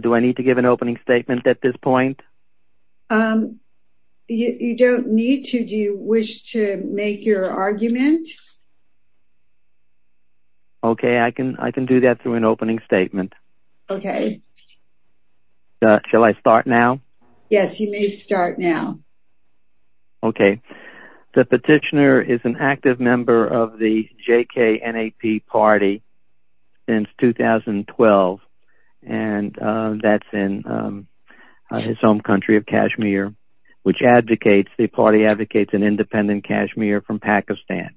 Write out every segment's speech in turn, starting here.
Do I need to give an opening statement at this point? You don't need to. Do you wish to make your argument? Okay I can do that through an opening statement. Shall I start now? Yes, you may start now. Okay, the petitioner is an active member of the JKNAP party since 2012 and that's in his home country of Kashmir, which advocates, the party advocates an independent Kashmir from Pakistan.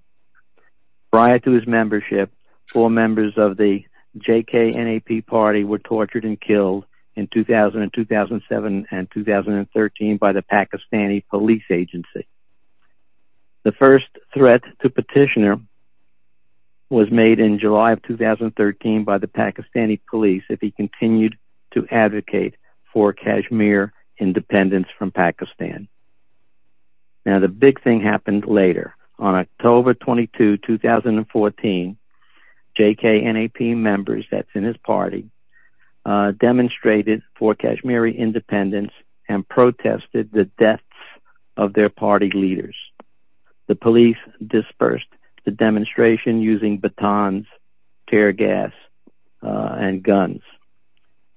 Prior to his membership, four members of the JKNAP party were tortured and agency. The first threat to petitioner was made in July of 2013 by the Pakistani police if he continued to advocate for Kashmir independence from Pakistan. Now the big thing happened later. On October 22, 2014, JKNAP members, that's in his party, demonstrated for Kashmiri independence and protested the deaths of their party leaders. The police dispersed the demonstration using batons, tear gas, and guns.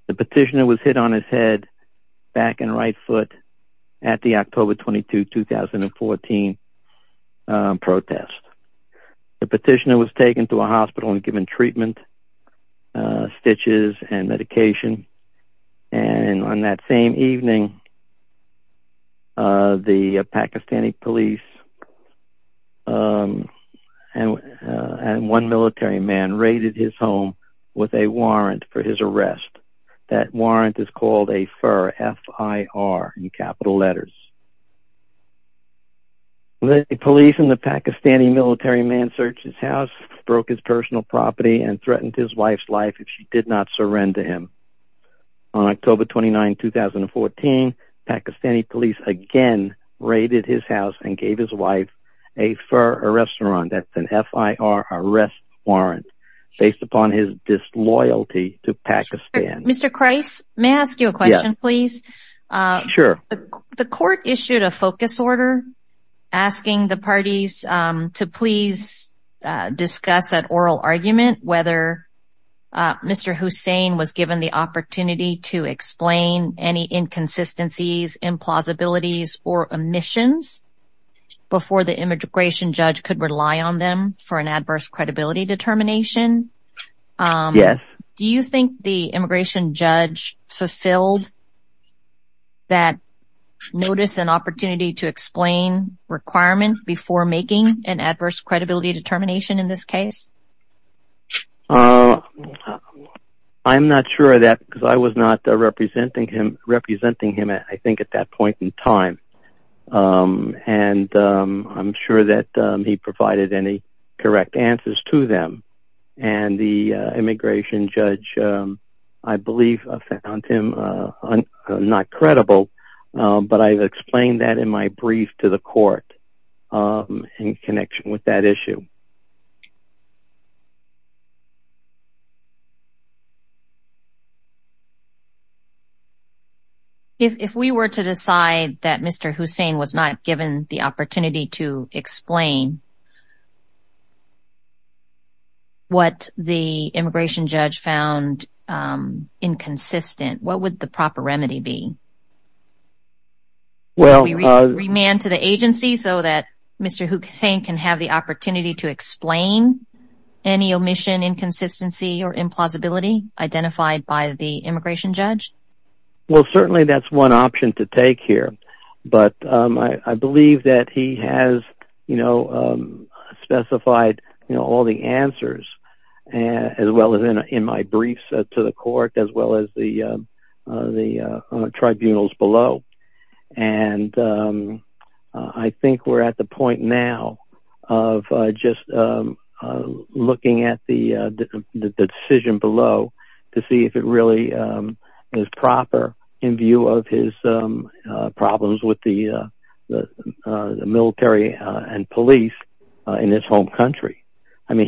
The petitioner was hit on his head, back and right foot at the October 22, 2014 protest. The petitioner was taken to a hospital and given treatment, stitches and medication. And on that same evening, the Pakistani police and one military man raided his home with a warrant for his arrest. That warrant is called a FIR, F-I-R in capital letters. The police and the Pakistani military man searched his house, broke his personal property, and threatened his wife's life if she did not surrender him. On October 29, 2014, Pakistani police again raided his house and gave his wife a FIR arrest warrant, that's an F-I-R arrest warrant, based upon his disloyalty to Pakistan. Mr. Kreiss, may I ask you a question, please? Sure. The court issued a focus order asking the parties to please discuss at oral argument whether Mr. Hussain was given the opportunity to explain any inconsistencies, implausibilities, or omissions before the immigration judge could rely on them for an adverse credibility determination. Yes. Do you notice an opportunity to explain requirement before making an adverse credibility determination in this case? I'm not sure of that because I was not representing him, I think, at that point in time. And I'm sure that he provided any correct answers to them. And the immigration judge, I believe, found him not credible, but I've explained that in my brief to the court in connection with that issue. If we were to decide that Mr. Hussain was not given the opportunity to explain what the immigration judge found inconsistent, what would the proper remedy be? Remand to the agency so that Mr. Hussain can have the opportunity to explain any omission, inconsistency, or implausibility identified by the immigration judge? Well, I believe that he has specified all the answers as well as in my briefs to the court as well as the tribunals below. And I think we're at the point now of just looking at the decision below to see if it really is proper in view of his problems with the military and police in this home country. I'm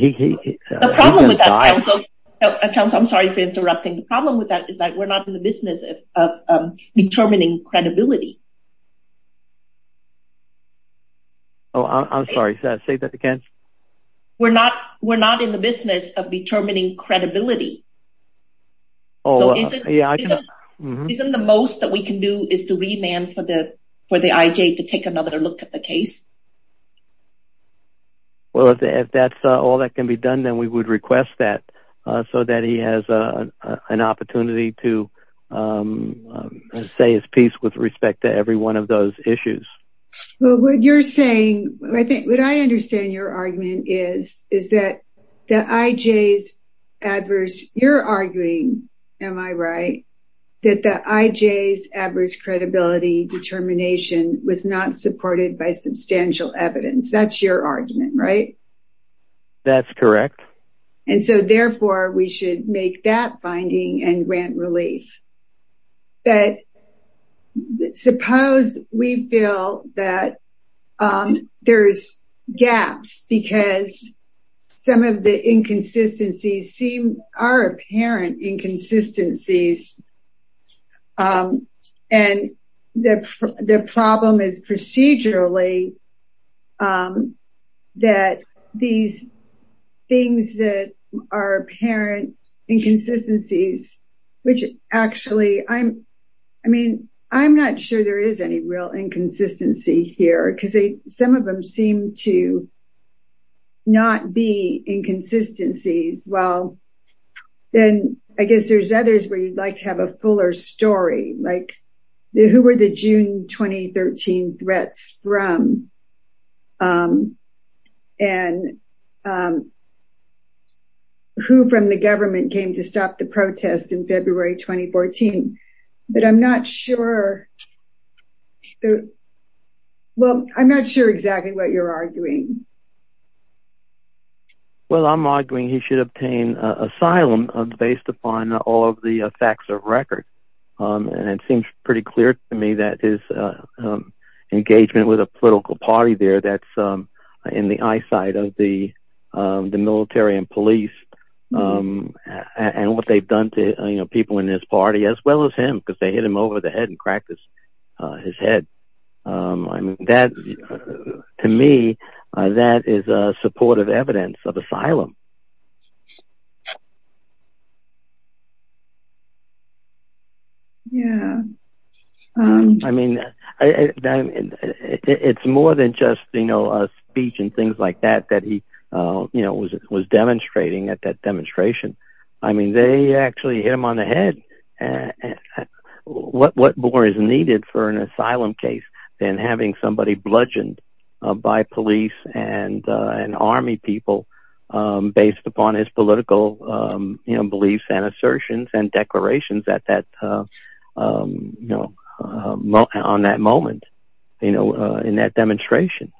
sorry for interrupting. The problem with that is that we're not in the business of determining credibility. Oh, I'm sorry. Say that again. We're not in the business of determining credibility. So isn't the most that we can do is to remand for the IJ to take another look at the case? Well, if that's all that can be done, then we would request that so that he has an opportunity to say his piece with respect to every one of those issues. Well, you're arguing, am I right, that the IJ's adverse credibility determination was not supported by substantial evidence. That's your argument, right? That's correct. And so therefore, we should make that finding and grant relief. But suppose we feel that there's gaps because some of the inconsistencies seem are apparent inconsistencies. And the problem is procedurally that these things that are apparent inconsistencies, which actually I'm, I mean, I'm not sure there is any real inconsistency here because some of seem to not be inconsistencies. Well, then I guess there's others where you'd like to have a fuller story like the who were the June 2013 threats from and who from the government came to stop the protest in February 2014. But I'm not sure. Well, I'm not sure exactly what you're arguing. Well, I'm arguing he should obtain asylum based upon all of the facts of record. And it seems pretty clear to me that his engagement with a political party there that's in the eyesight of the military and police and what they've done to people in this party, as well as him, because they hit him over the head and cracked his head. I mean, that to me, that is supportive evidence of asylum. Yeah. I mean, it's more than just, you know, a speech and things like that, that he, you know, was demonstrating at that demonstration. I mean, they actually hit him on the head. What more is needed for an asylum case than having somebody bludgeoned by police and an army people based upon his political beliefs and assertions and declarations that that, you know, on that moment, you know, in that demonstration?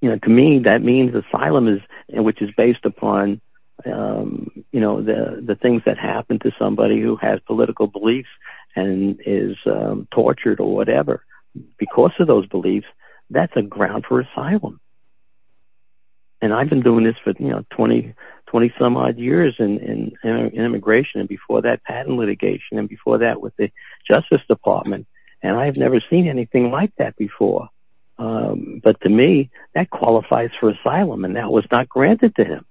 You know, to me, that means asylum is in which is based upon, you know, the things that happen to somebody who has political beliefs and is tortured or whatever because of those beliefs. That's a ground for asylum. And I've been doing this for, you know, 20 some odd years in immigration and before that patent litigation and before that with the Justice Department. And I have never seen anything like that before. But to me, that qualifies for asylum and that was not granted to him.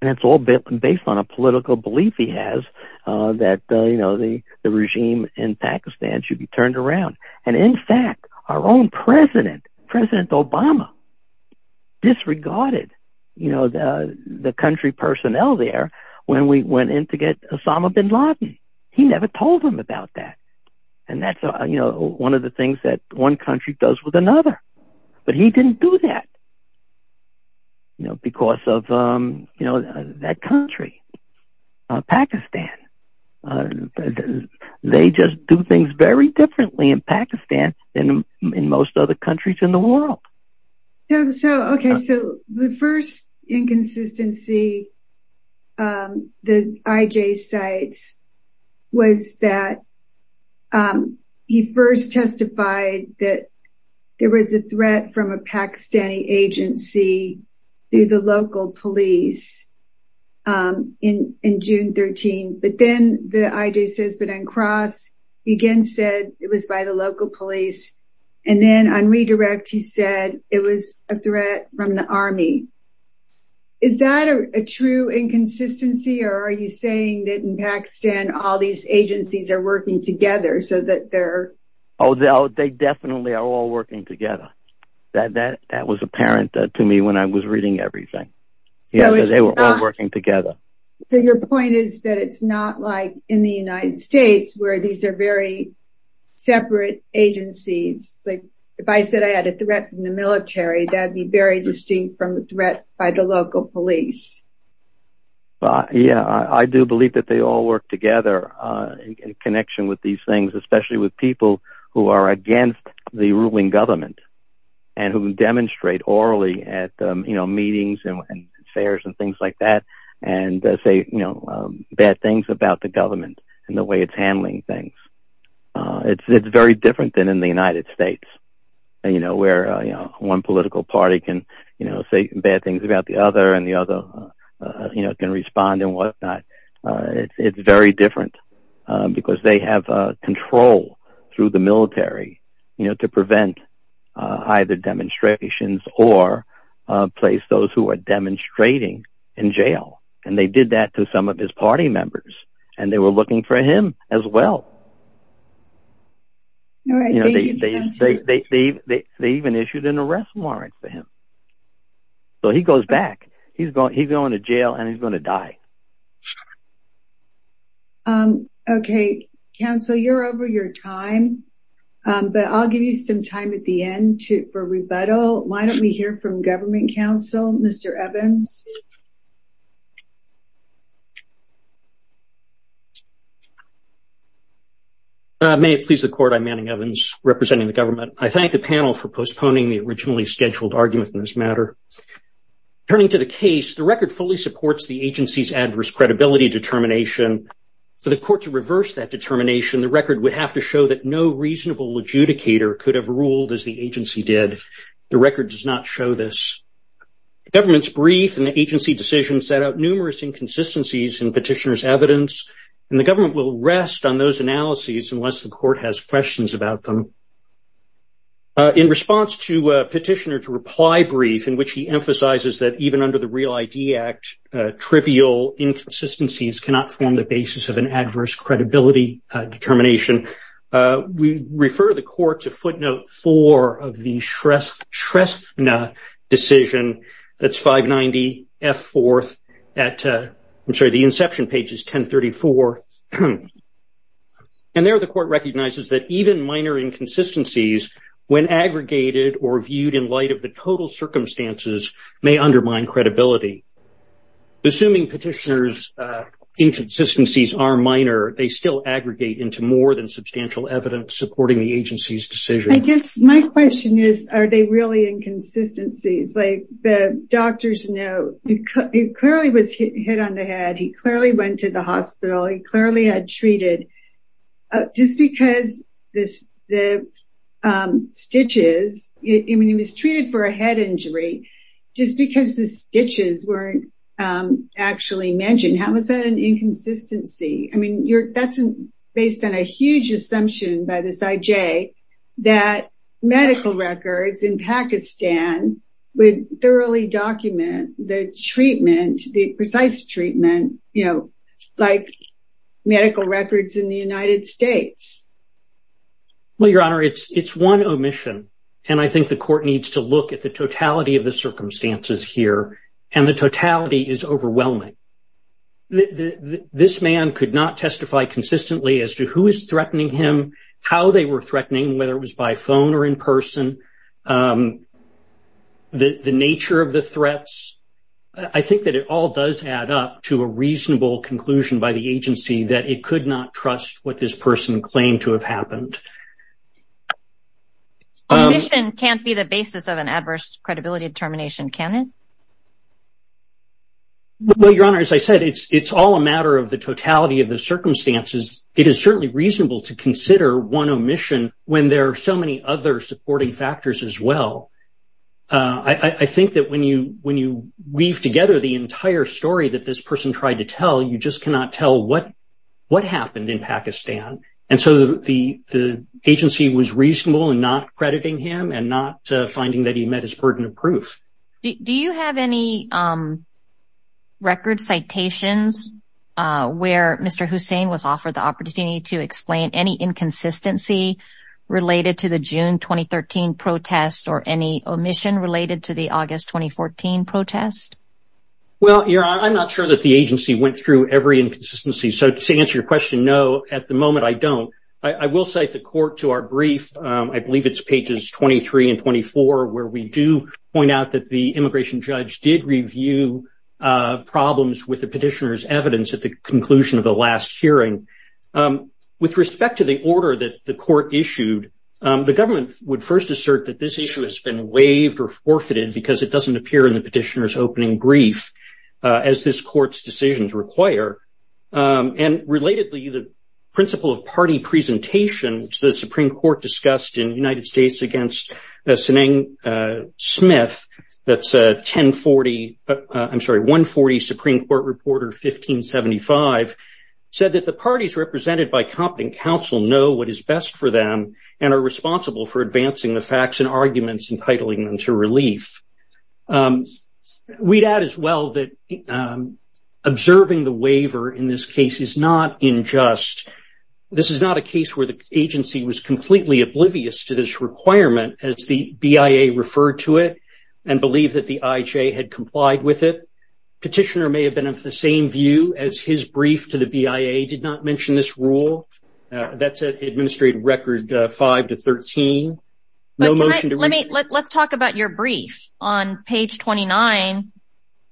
And it's all based on a political belief he has that, you know, the regime in Pakistan, should be turned around. And in fact, our own president, President Obama disregarded, you know, the country personnel there when we went in to get Osama bin Laden. He never told them about that. And that's, you know, one of the things that one country does with another. But he didn't do that. You know, because of, you know, that country, Pakistan, they just do things very differently in Pakistan than in most other countries in the world. So, okay. So, the first inconsistency that I.J. cites was that he first testified that there was a threat from a Pakistani agency through the local police in June 13, but then the I.J. says, but on cross, he again said it was by the local police. And then on redirect, he said it was a threat from the army. Is that a true inconsistency? Or are you saying that in Pakistan, all these agencies are working together so that they're? Oh, they definitely are all working together. That was apparent to me when I was reading everything. So, they were all working together. So, your point is that it's not like in the United States where these are very separate agencies. Like if I said I had a threat from the military, that'd be very distinct from a threat by the local police. Yeah, I do believe that they all work together in connection with these things, especially with who are against the ruling government and who demonstrate orally at meetings and fairs and things like that and say bad things about the government and the way it's handling things. It's very different than in the United States where one political party can say bad things about the other and the other can respond and whatnot. It's very different because they have control through the military to prevent either demonstrations or place those who are demonstrating in jail. And they did that to some of his party members and they were looking for him as well. They even issued an arrest warrant for him. So, he goes back. He's going to jail and he's going to jail. So, you're over your time, but I'll give you some time at the end for rebuttal. Why don't we hear from government counsel, Mr. Evans? May it please the court, I'm Manning Evans representing the government. I thank the panel for postponing the originally scheduled argument in this matter. Turning to the case, the record fully supports the agency's adverse credibility determination. For the court to reverse that determination, the record would have to show that no reasonable adjudicator could have ruled as the agency did. The record does not show this. The government's brief and the agency decision set out numerous inconsistencies in petitioner's evidence, and the government will rest on those analyses unless the court has questions about them. In response to petitioner's reply brief in which he emphasizes that even under the Real ID Act, trivial inconsistencies cannot form the basis of an adverse credibility determination, we refer the court to footnote four of the Shresthna decision. That's 590 F4th at, I'm sorry, the inception page is 1034. And there the court recognizes that even minor inconsistencies, when aggregated or viewed in light of the total circumstances, may undermine credibility. Assuming petitioner's inconsistencies are minor, they still aggregate into more than substantial evidence supporting the agency's decision. I guess my question is, are they really inconsistencies? Like the doctor's note, he clearly was hit on the head, he clearly went to the hospital, he clearly had treated, just because the stitches, I mean, he was treated for a head injury, just because the stitches weren't actually mentioned. How is that an inconsistency? I mean, that's based on a huge assumption by this IJ, that medical records in Pakistan would thoroughly document the treatment, the precise treatment, you know, like medical records in the United States. Well, Your Honor, it's one omission. And I think the court needs to look at the totality of the circumstances here. And the totality is overwhelming. This man could not testify consistently as to who is threatening him, how they were threatening, whether it was by phone or in person, the nature of the threats. I think that it all does add up to a reasonable conclusion by the agency that it could not trust what this person claimed to have an adverse credibility determination, can it? Well, Your Honor, as I said, it's all a matter of the totality of the circumstances. It is certainly reasonable to consider one omission when there are so many other supporting factors as well. I think that when you weave together the entire story that this person tried to tell, you just cannot tell what happened in Pakistan. And so the agency was reasonable in not crediting him and not finding that he met his burden of proof. Do you have any record citations where Mr. Hussain was offered the opportunity to explain any inconsistency related to the June 2013 protest or any omission related to the August 2014 protest? Well, Your Honor, I'm not sure that the agency went through every inconsistency. So to answer your question, no, at the moment, I don't. I will cite the court to our brief. I believe it's pages 23 and 24, where we do point out that the immigration judge did review problems with the petitioner's evidence at the conclusion of the last hearing. With respect to the order that the court issued, the government would first assert that this issue has been waived or forfeited because it doesn't appear in the petitioner's opening brief, as this court's decisions require. And relatedly, the principle of party presentation, which the Supreme Court discussed in United States against Seneng Smith, that's a 1040, I'm sorry, 140 Supreme Court reporter, 1575, said that the parties represented by competent counsel know what is best for them and are responsible for advancing the facts and arguments entitling them to relief. We'd add as well that observing the waiver in this case is not unjust. This is not a case where the agency was completely oblivious to this requirement as the BIA referred to it and believed that the IJ had complied with it. Petitioner may have been of the same view as his brief to the BIA did not mention this rule. That's an administrative record 5 to 13. No motion to review. Let's talk about your brief. On page 29,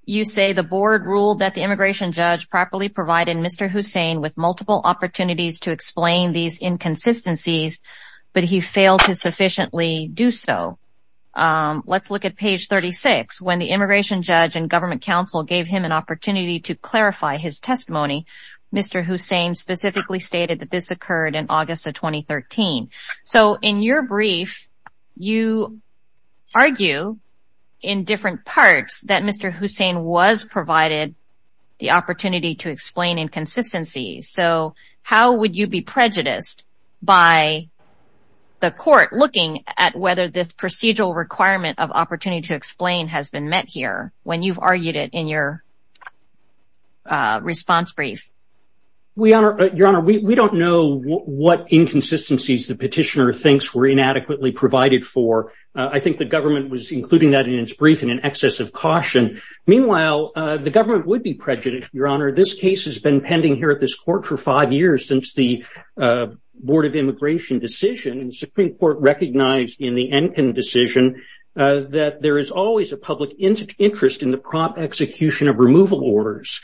you say the board ruled that the immigration judge properly provided Mr. Hussein with multiple opportunities to explain these inconsistencies, but he failed to sufficiently do so. Let's look at page 36. When the immigration judge and government counsel gave him an opportunity to clarify his testimony, Mr. Hussein specifically stated that this occurred in August of 2013. So in your brief, you argue in different parts that Mr. Hussein was provided the opportunity to explain inconsistencies. So how would you be prejudiced by the court looking at whether this procedural requirement of opportunity to explain has been met here when you've argued it in your response brief? Your Honor, we don't know what inconsistencies the petitioner thinks were inadequately provided for. I think the government was including that in its brief in an excess of caution. Meanwhile, the government would be prejudiced, Your Honor. This case has been pending here at this court for five years since the Board of Immigration decision and Supreme Court recognized in the Enkin decision that there is always a public interest in the prompt execution of removal orders.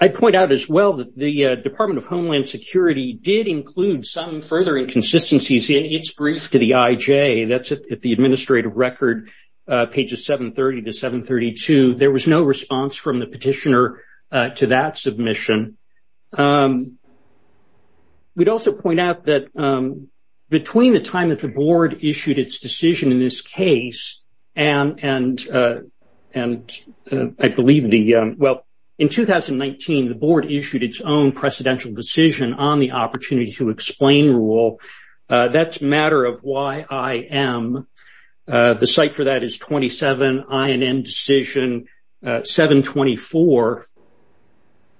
I'd point out as well that the Department of Homeland Security did include some further inconsistencies in its brief to the IJ. That's at the administrative record, pages 730 to 732. There was no response from the petitioner to that submission. We'd also point out that between the time that the board issued its decision in this case and I believe the, well, in 2019, the board issued its own precedential decision on the opportunity to explain rule. That's matter of YIM. The cite for that is 27 INN decision 724.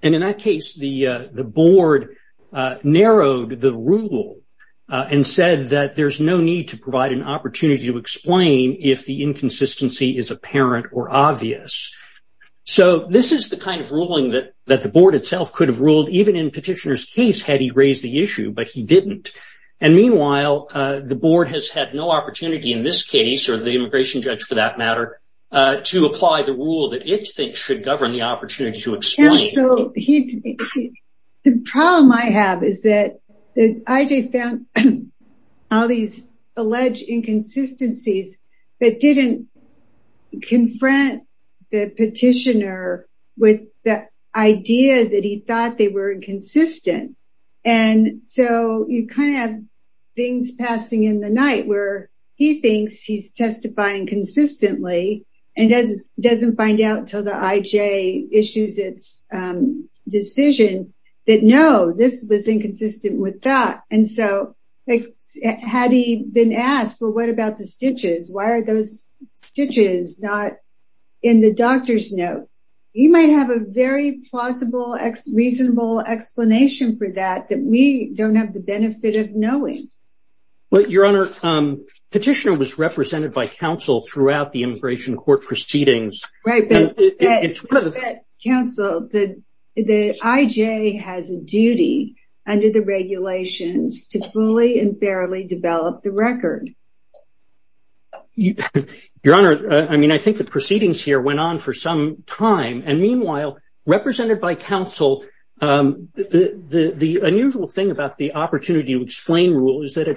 And in that case, the board narrowed the rule and said that there's no need to provide an opportunity to explain if the inconsistency is apparent or obvious. So this is the kind of ruling that the board itself could have ruled even in petitioner's case had he raised the issue, but he didn't. And meanwhile, the board has had no opportunity in this case or the immigration judge for that matter to apply the rule that it thinks should govern the opportunity to explain. So the problem I have is that the IJ found all these alleged inconsistencies that didn't confront the petitioner with the idea that he thought they were inconsistent. And so you kind of have things passing in the night where he thinks he's testifying consistently and doesn't find out until the IJ issues its decision that no, this was inconsistent with that. And so had he been asked, well, what about the stitches? Why are those stitches not in the doctor's note? He might have a very plausible, reasonable explanation for that, that we don't have the benefit of knowing. Well, your honor, petitioner was represented by counsel throughout the Right. But counsel, the IJ has a duty under the regulations to fully and fairly develop the record. Your honor, I mean, I think the proceedings here went on for some time. And meanwhile, represented by counsel, the unusual thing about the opportunity to explain rule is that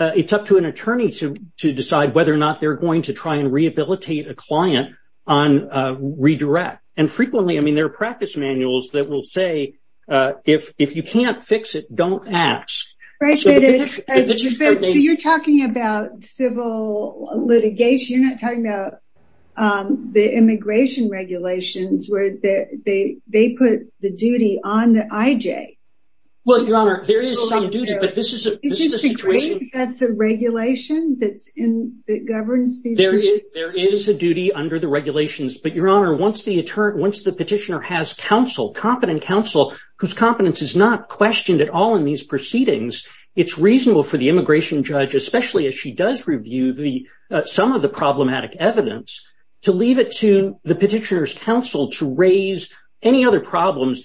it's up to an attorney to decide whether or not they're going to try and rehabilitate a client on redirect. And frequently, I mean, there are practice manuals that will say, if you can't fix it, don't ask. You're talking about civil litigation. You're not talking about the immigration regulations where they put the duty on the IJ. Well, your honor, there is some duty, but this is a situation that's a regulation that governs. There is a duty under the regulations. But your honor, once the petitioner has counsel, competent counsel, whose competence is not questioned at all in these proceedings, it's reasonable for the immigration judge, especially as she does review some of the problematic evidence, to leave it to the petitioner's counsel to raise any other liability.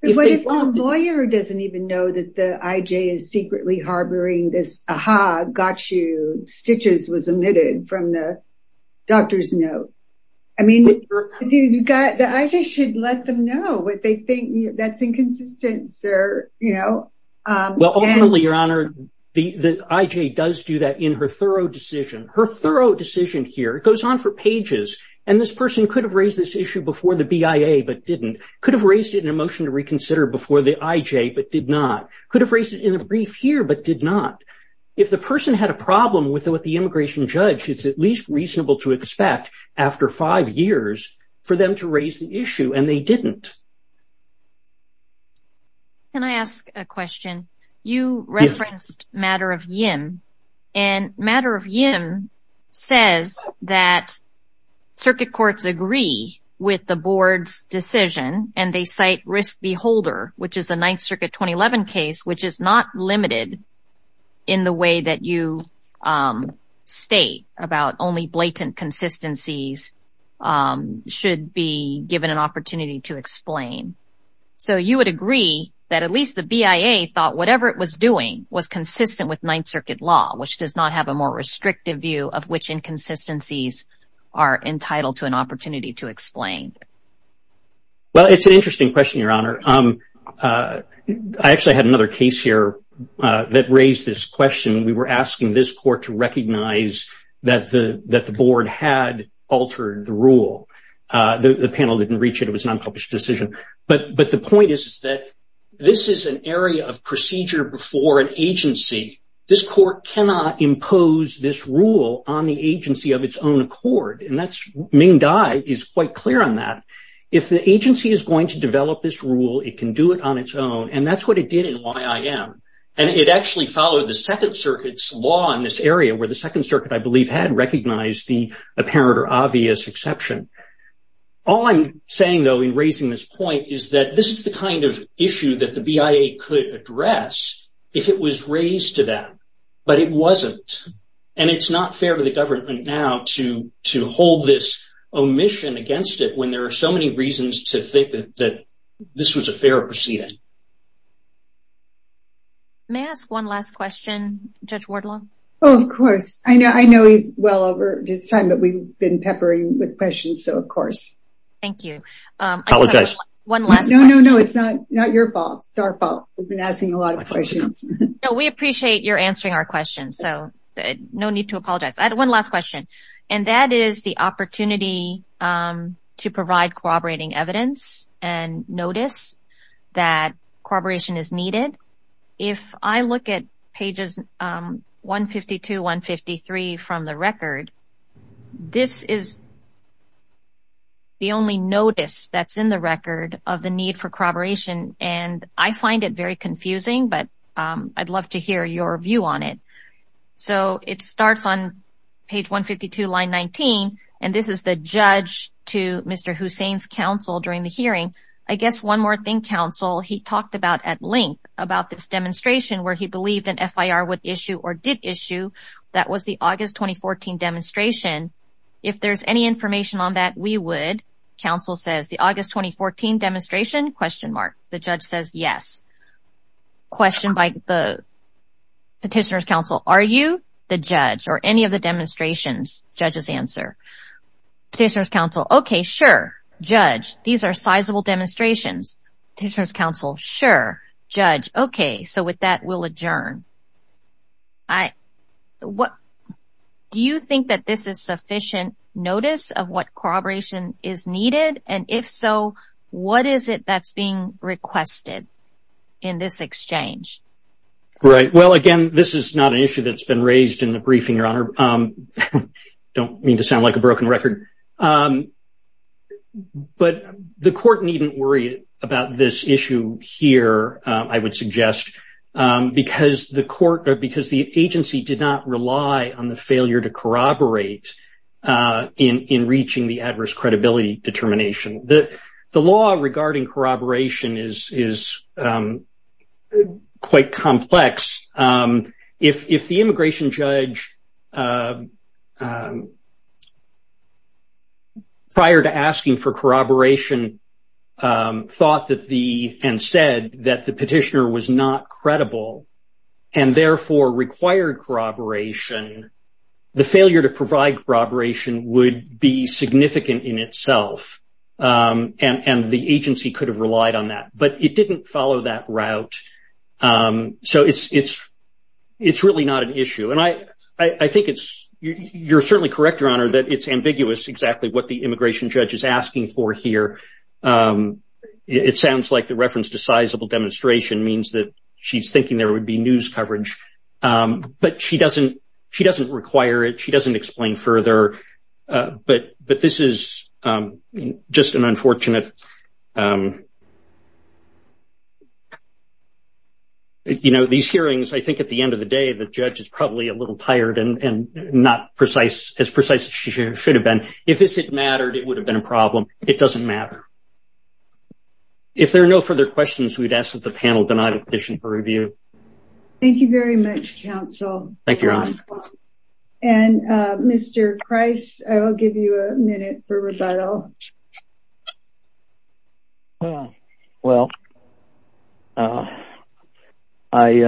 But what if the lawyer doesn't even know that the IJ is secretly harboring this, aha, got you, stitches was omitted from the doctor's note. I mean, the IJ should let them know what they think. That's inconsistent, sir. Well, ultimately, your honor, the IJ does do that in her thorough decision, her thorough decision here goes on for pages. And this person could have raised this issue before the BIA, but didn't. Could have raised it in a motion to reconsider before the IJ, but did not. Could have raised it in a brief here, but did not. If the person had a problem with what the immigration judge, it's at least reasonable to expect after five years for them to raise the issue, and they didn't. Can I ask a question? You referenced Matter of Yim, and Matter of Yim says that circuit courts agree with the board's decision, and they cite Risk Beholder, which is a Ninth Circuit 2011 case, which is not limited in the way that you state about only blatant consistencies should be given an opportunity to explain. So you would agree that at least the BIA thought whatever it was doing was consistent with Ninth Circuit law, which does not have a more restrictive view of which inconsistencies are entitled to an opportunity to explain. Well, it's an interesting question, your honor. I actually had another case here that raised this question. We were asking this court to recognize that the board had altered the rule. The panel didn't reach it. It was a non-published decision. But the point is that this is an area of procedure before an agency. This court cannot impose this rule on the agency of its own accord, and Ming Dai is quite clear on that. If the agency is going to develop this rule, it can do it on its own, and that's what it did in YIM, and it actually followed the Second Circuit's law in this area, where the Second Circuit, I believe, had recognized the apparent or obvious exception. All I'm saying, though, raising this point is that this is the kind of issue that the BIA could address if it was raised to them, but it wasn't, and it's not fair to the government now to hold this omission against it when there are so many reasons to think that this was a fair proceeding. May I ask one last question, Judge Wardlaw? Oh, of course. I know he's well over his time, but we've been peppering with one last question. No, no, no. It's not your fault. It's our fault. We've been asking a lot of questions. No, we appreciate your answering our questions, so no need to apologize. I had one last question, and that is the opportunity to provide corroborating evidence and notice that corroboration is needed. If I look at pages 152, 153 from the record, this is the only notice that's in the record of the need for corroboration, and I find it very confusing, but I'd love to hear your view on it. So, it starts on page 152, line 19, and this is the judge to Mr. Hussain's counsel during the hearing. I guess one more thing, counsel, he talked about at length about this demonstration where he believed an FIR would issue or did issue. That was the August 2014 demonstration. If there's any information on that, we would. Counsel says the August 2014 demonstration? The judge says yes. Question by the petitioner's counsel, are you the judge or any of the demonstrations? Judge's answer. Petitioner's counsel, okay, sure. Judge, these are sizable demonstrations. Petitioner's counsel, sure. Judge, okay, so with that, we'll adjourn. Do you think that this is sufficient notice of what corroboration is needed, and if so, what is it that's being requested in this exchange? Right. Well, again, this is not an issue that's been raised in the briefing, Your Honor. I don't mean to sound like a broken record, but the court needn't worry about this issue here, I would suggest, because the agency did not rely on the failure to corroborate in reaching the adverse credibility determination. The law regarding corroboration is quite complex. If the immigration judge, prior to asking for corroboration, thought that the, and said that the petitioner was not credible and, therefore, required corroboration, the failure to provide corroboration would be significant in itself, and the agency could have relied on that. But it didn't follow that route, so it's really not an issue, and I think it's, you're certainly correct, Your Honor, that it's ambiguous exactly what the immigration judge is asking for here. It sounds like the reference to sizable demonstration means that she's thinking there would be news coverage, but she doesn't require it. She doesn't explain further, but this is just an unfortunate, you know, these hearings, I think at the end of the day, the judge is probably a little tired and not as precise as she should have been. If this had mattered, it would have been a problem. It doesn't matter. If there are no further questions, we'd ask that the panel deny the petition for review. Thank you very much, counsel. Thank you, Your Honor. And Mr. Price, I'll give you a minute for rebuttal. Well, I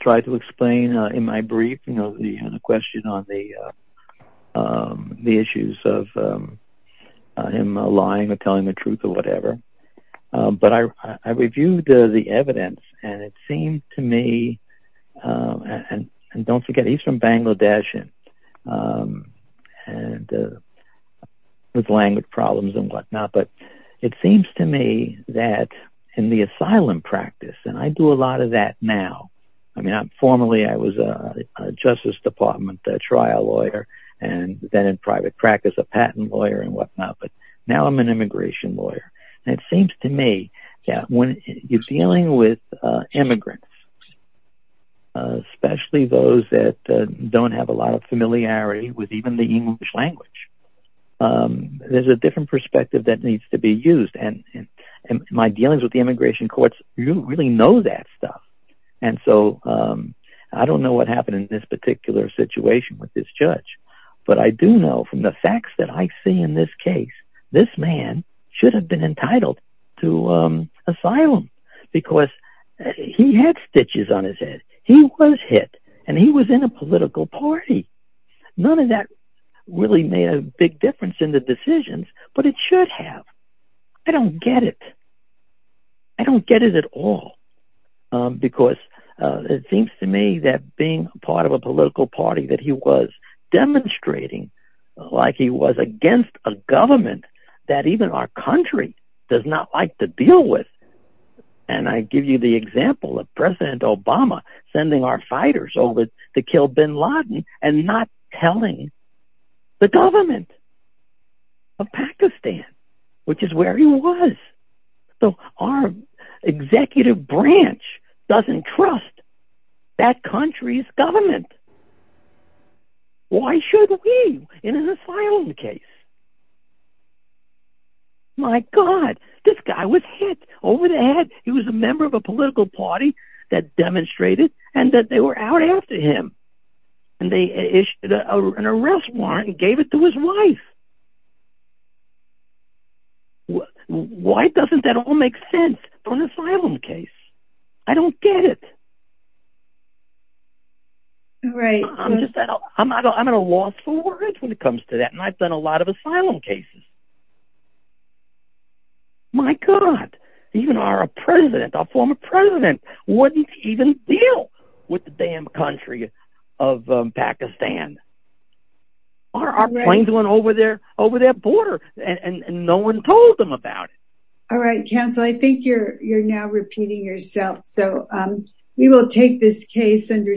tried to explain in my brief, you know, the question on the issues of him lying or telling the truth or whatever, but I reviewed the evidence, and it seemed to me, and don't forget, he's from Bangladesh and with language problems and whatnot, but it seems to me that in the asylum practice, and I do a lot of that now, I mean, formerly I was a Justice Department trial lawyer, and then in private practice, a patent lawyer and whatnot, but now I'm an immigration lawyer, and it seems to me that when you're dealing with immigrants, especially those that don't have a lot of familiarity with even the English language, there's a different perspective that needs to be used, and my dealings with the immigration courts, you really know that stuff, and so I don't know what happened in this particular situation with this judge, but I do know from the facts that I see in this case, this man should have been entitled to asylum because he had stitches on his head. He was hit, and he was in a political party. None of that really made a big difference in the decisions, but it should have. I don't get it. I don't get it at all because it seems to me that being part of a political party that he was demonstrating like he was against a government that even our country does not like to deal with, and I give you the example of President Obama sending our fighters over to kill bin Laden and not telling the government of Pakistan, which is where he was, so our executive branch doesn't trust that country's government. Why should we in an asylum case? My God, this guy was hit over the head. He was a member of a political party that demonstrated and that they were out after him, and they issued an arrest warrant and gave it to his wife. Why doesn't that all make sense on an asylum case? I don't get it. I'm at a loss for words when it comes to that, and I've done a lot of asylum cases. My God, even our president, our former president wouldn't even deal with the damn country of Pakistan. Our planes went over their border, and no one told them about it. All right, counsel, I think you're now repeating yourself, so we will take this case under submission.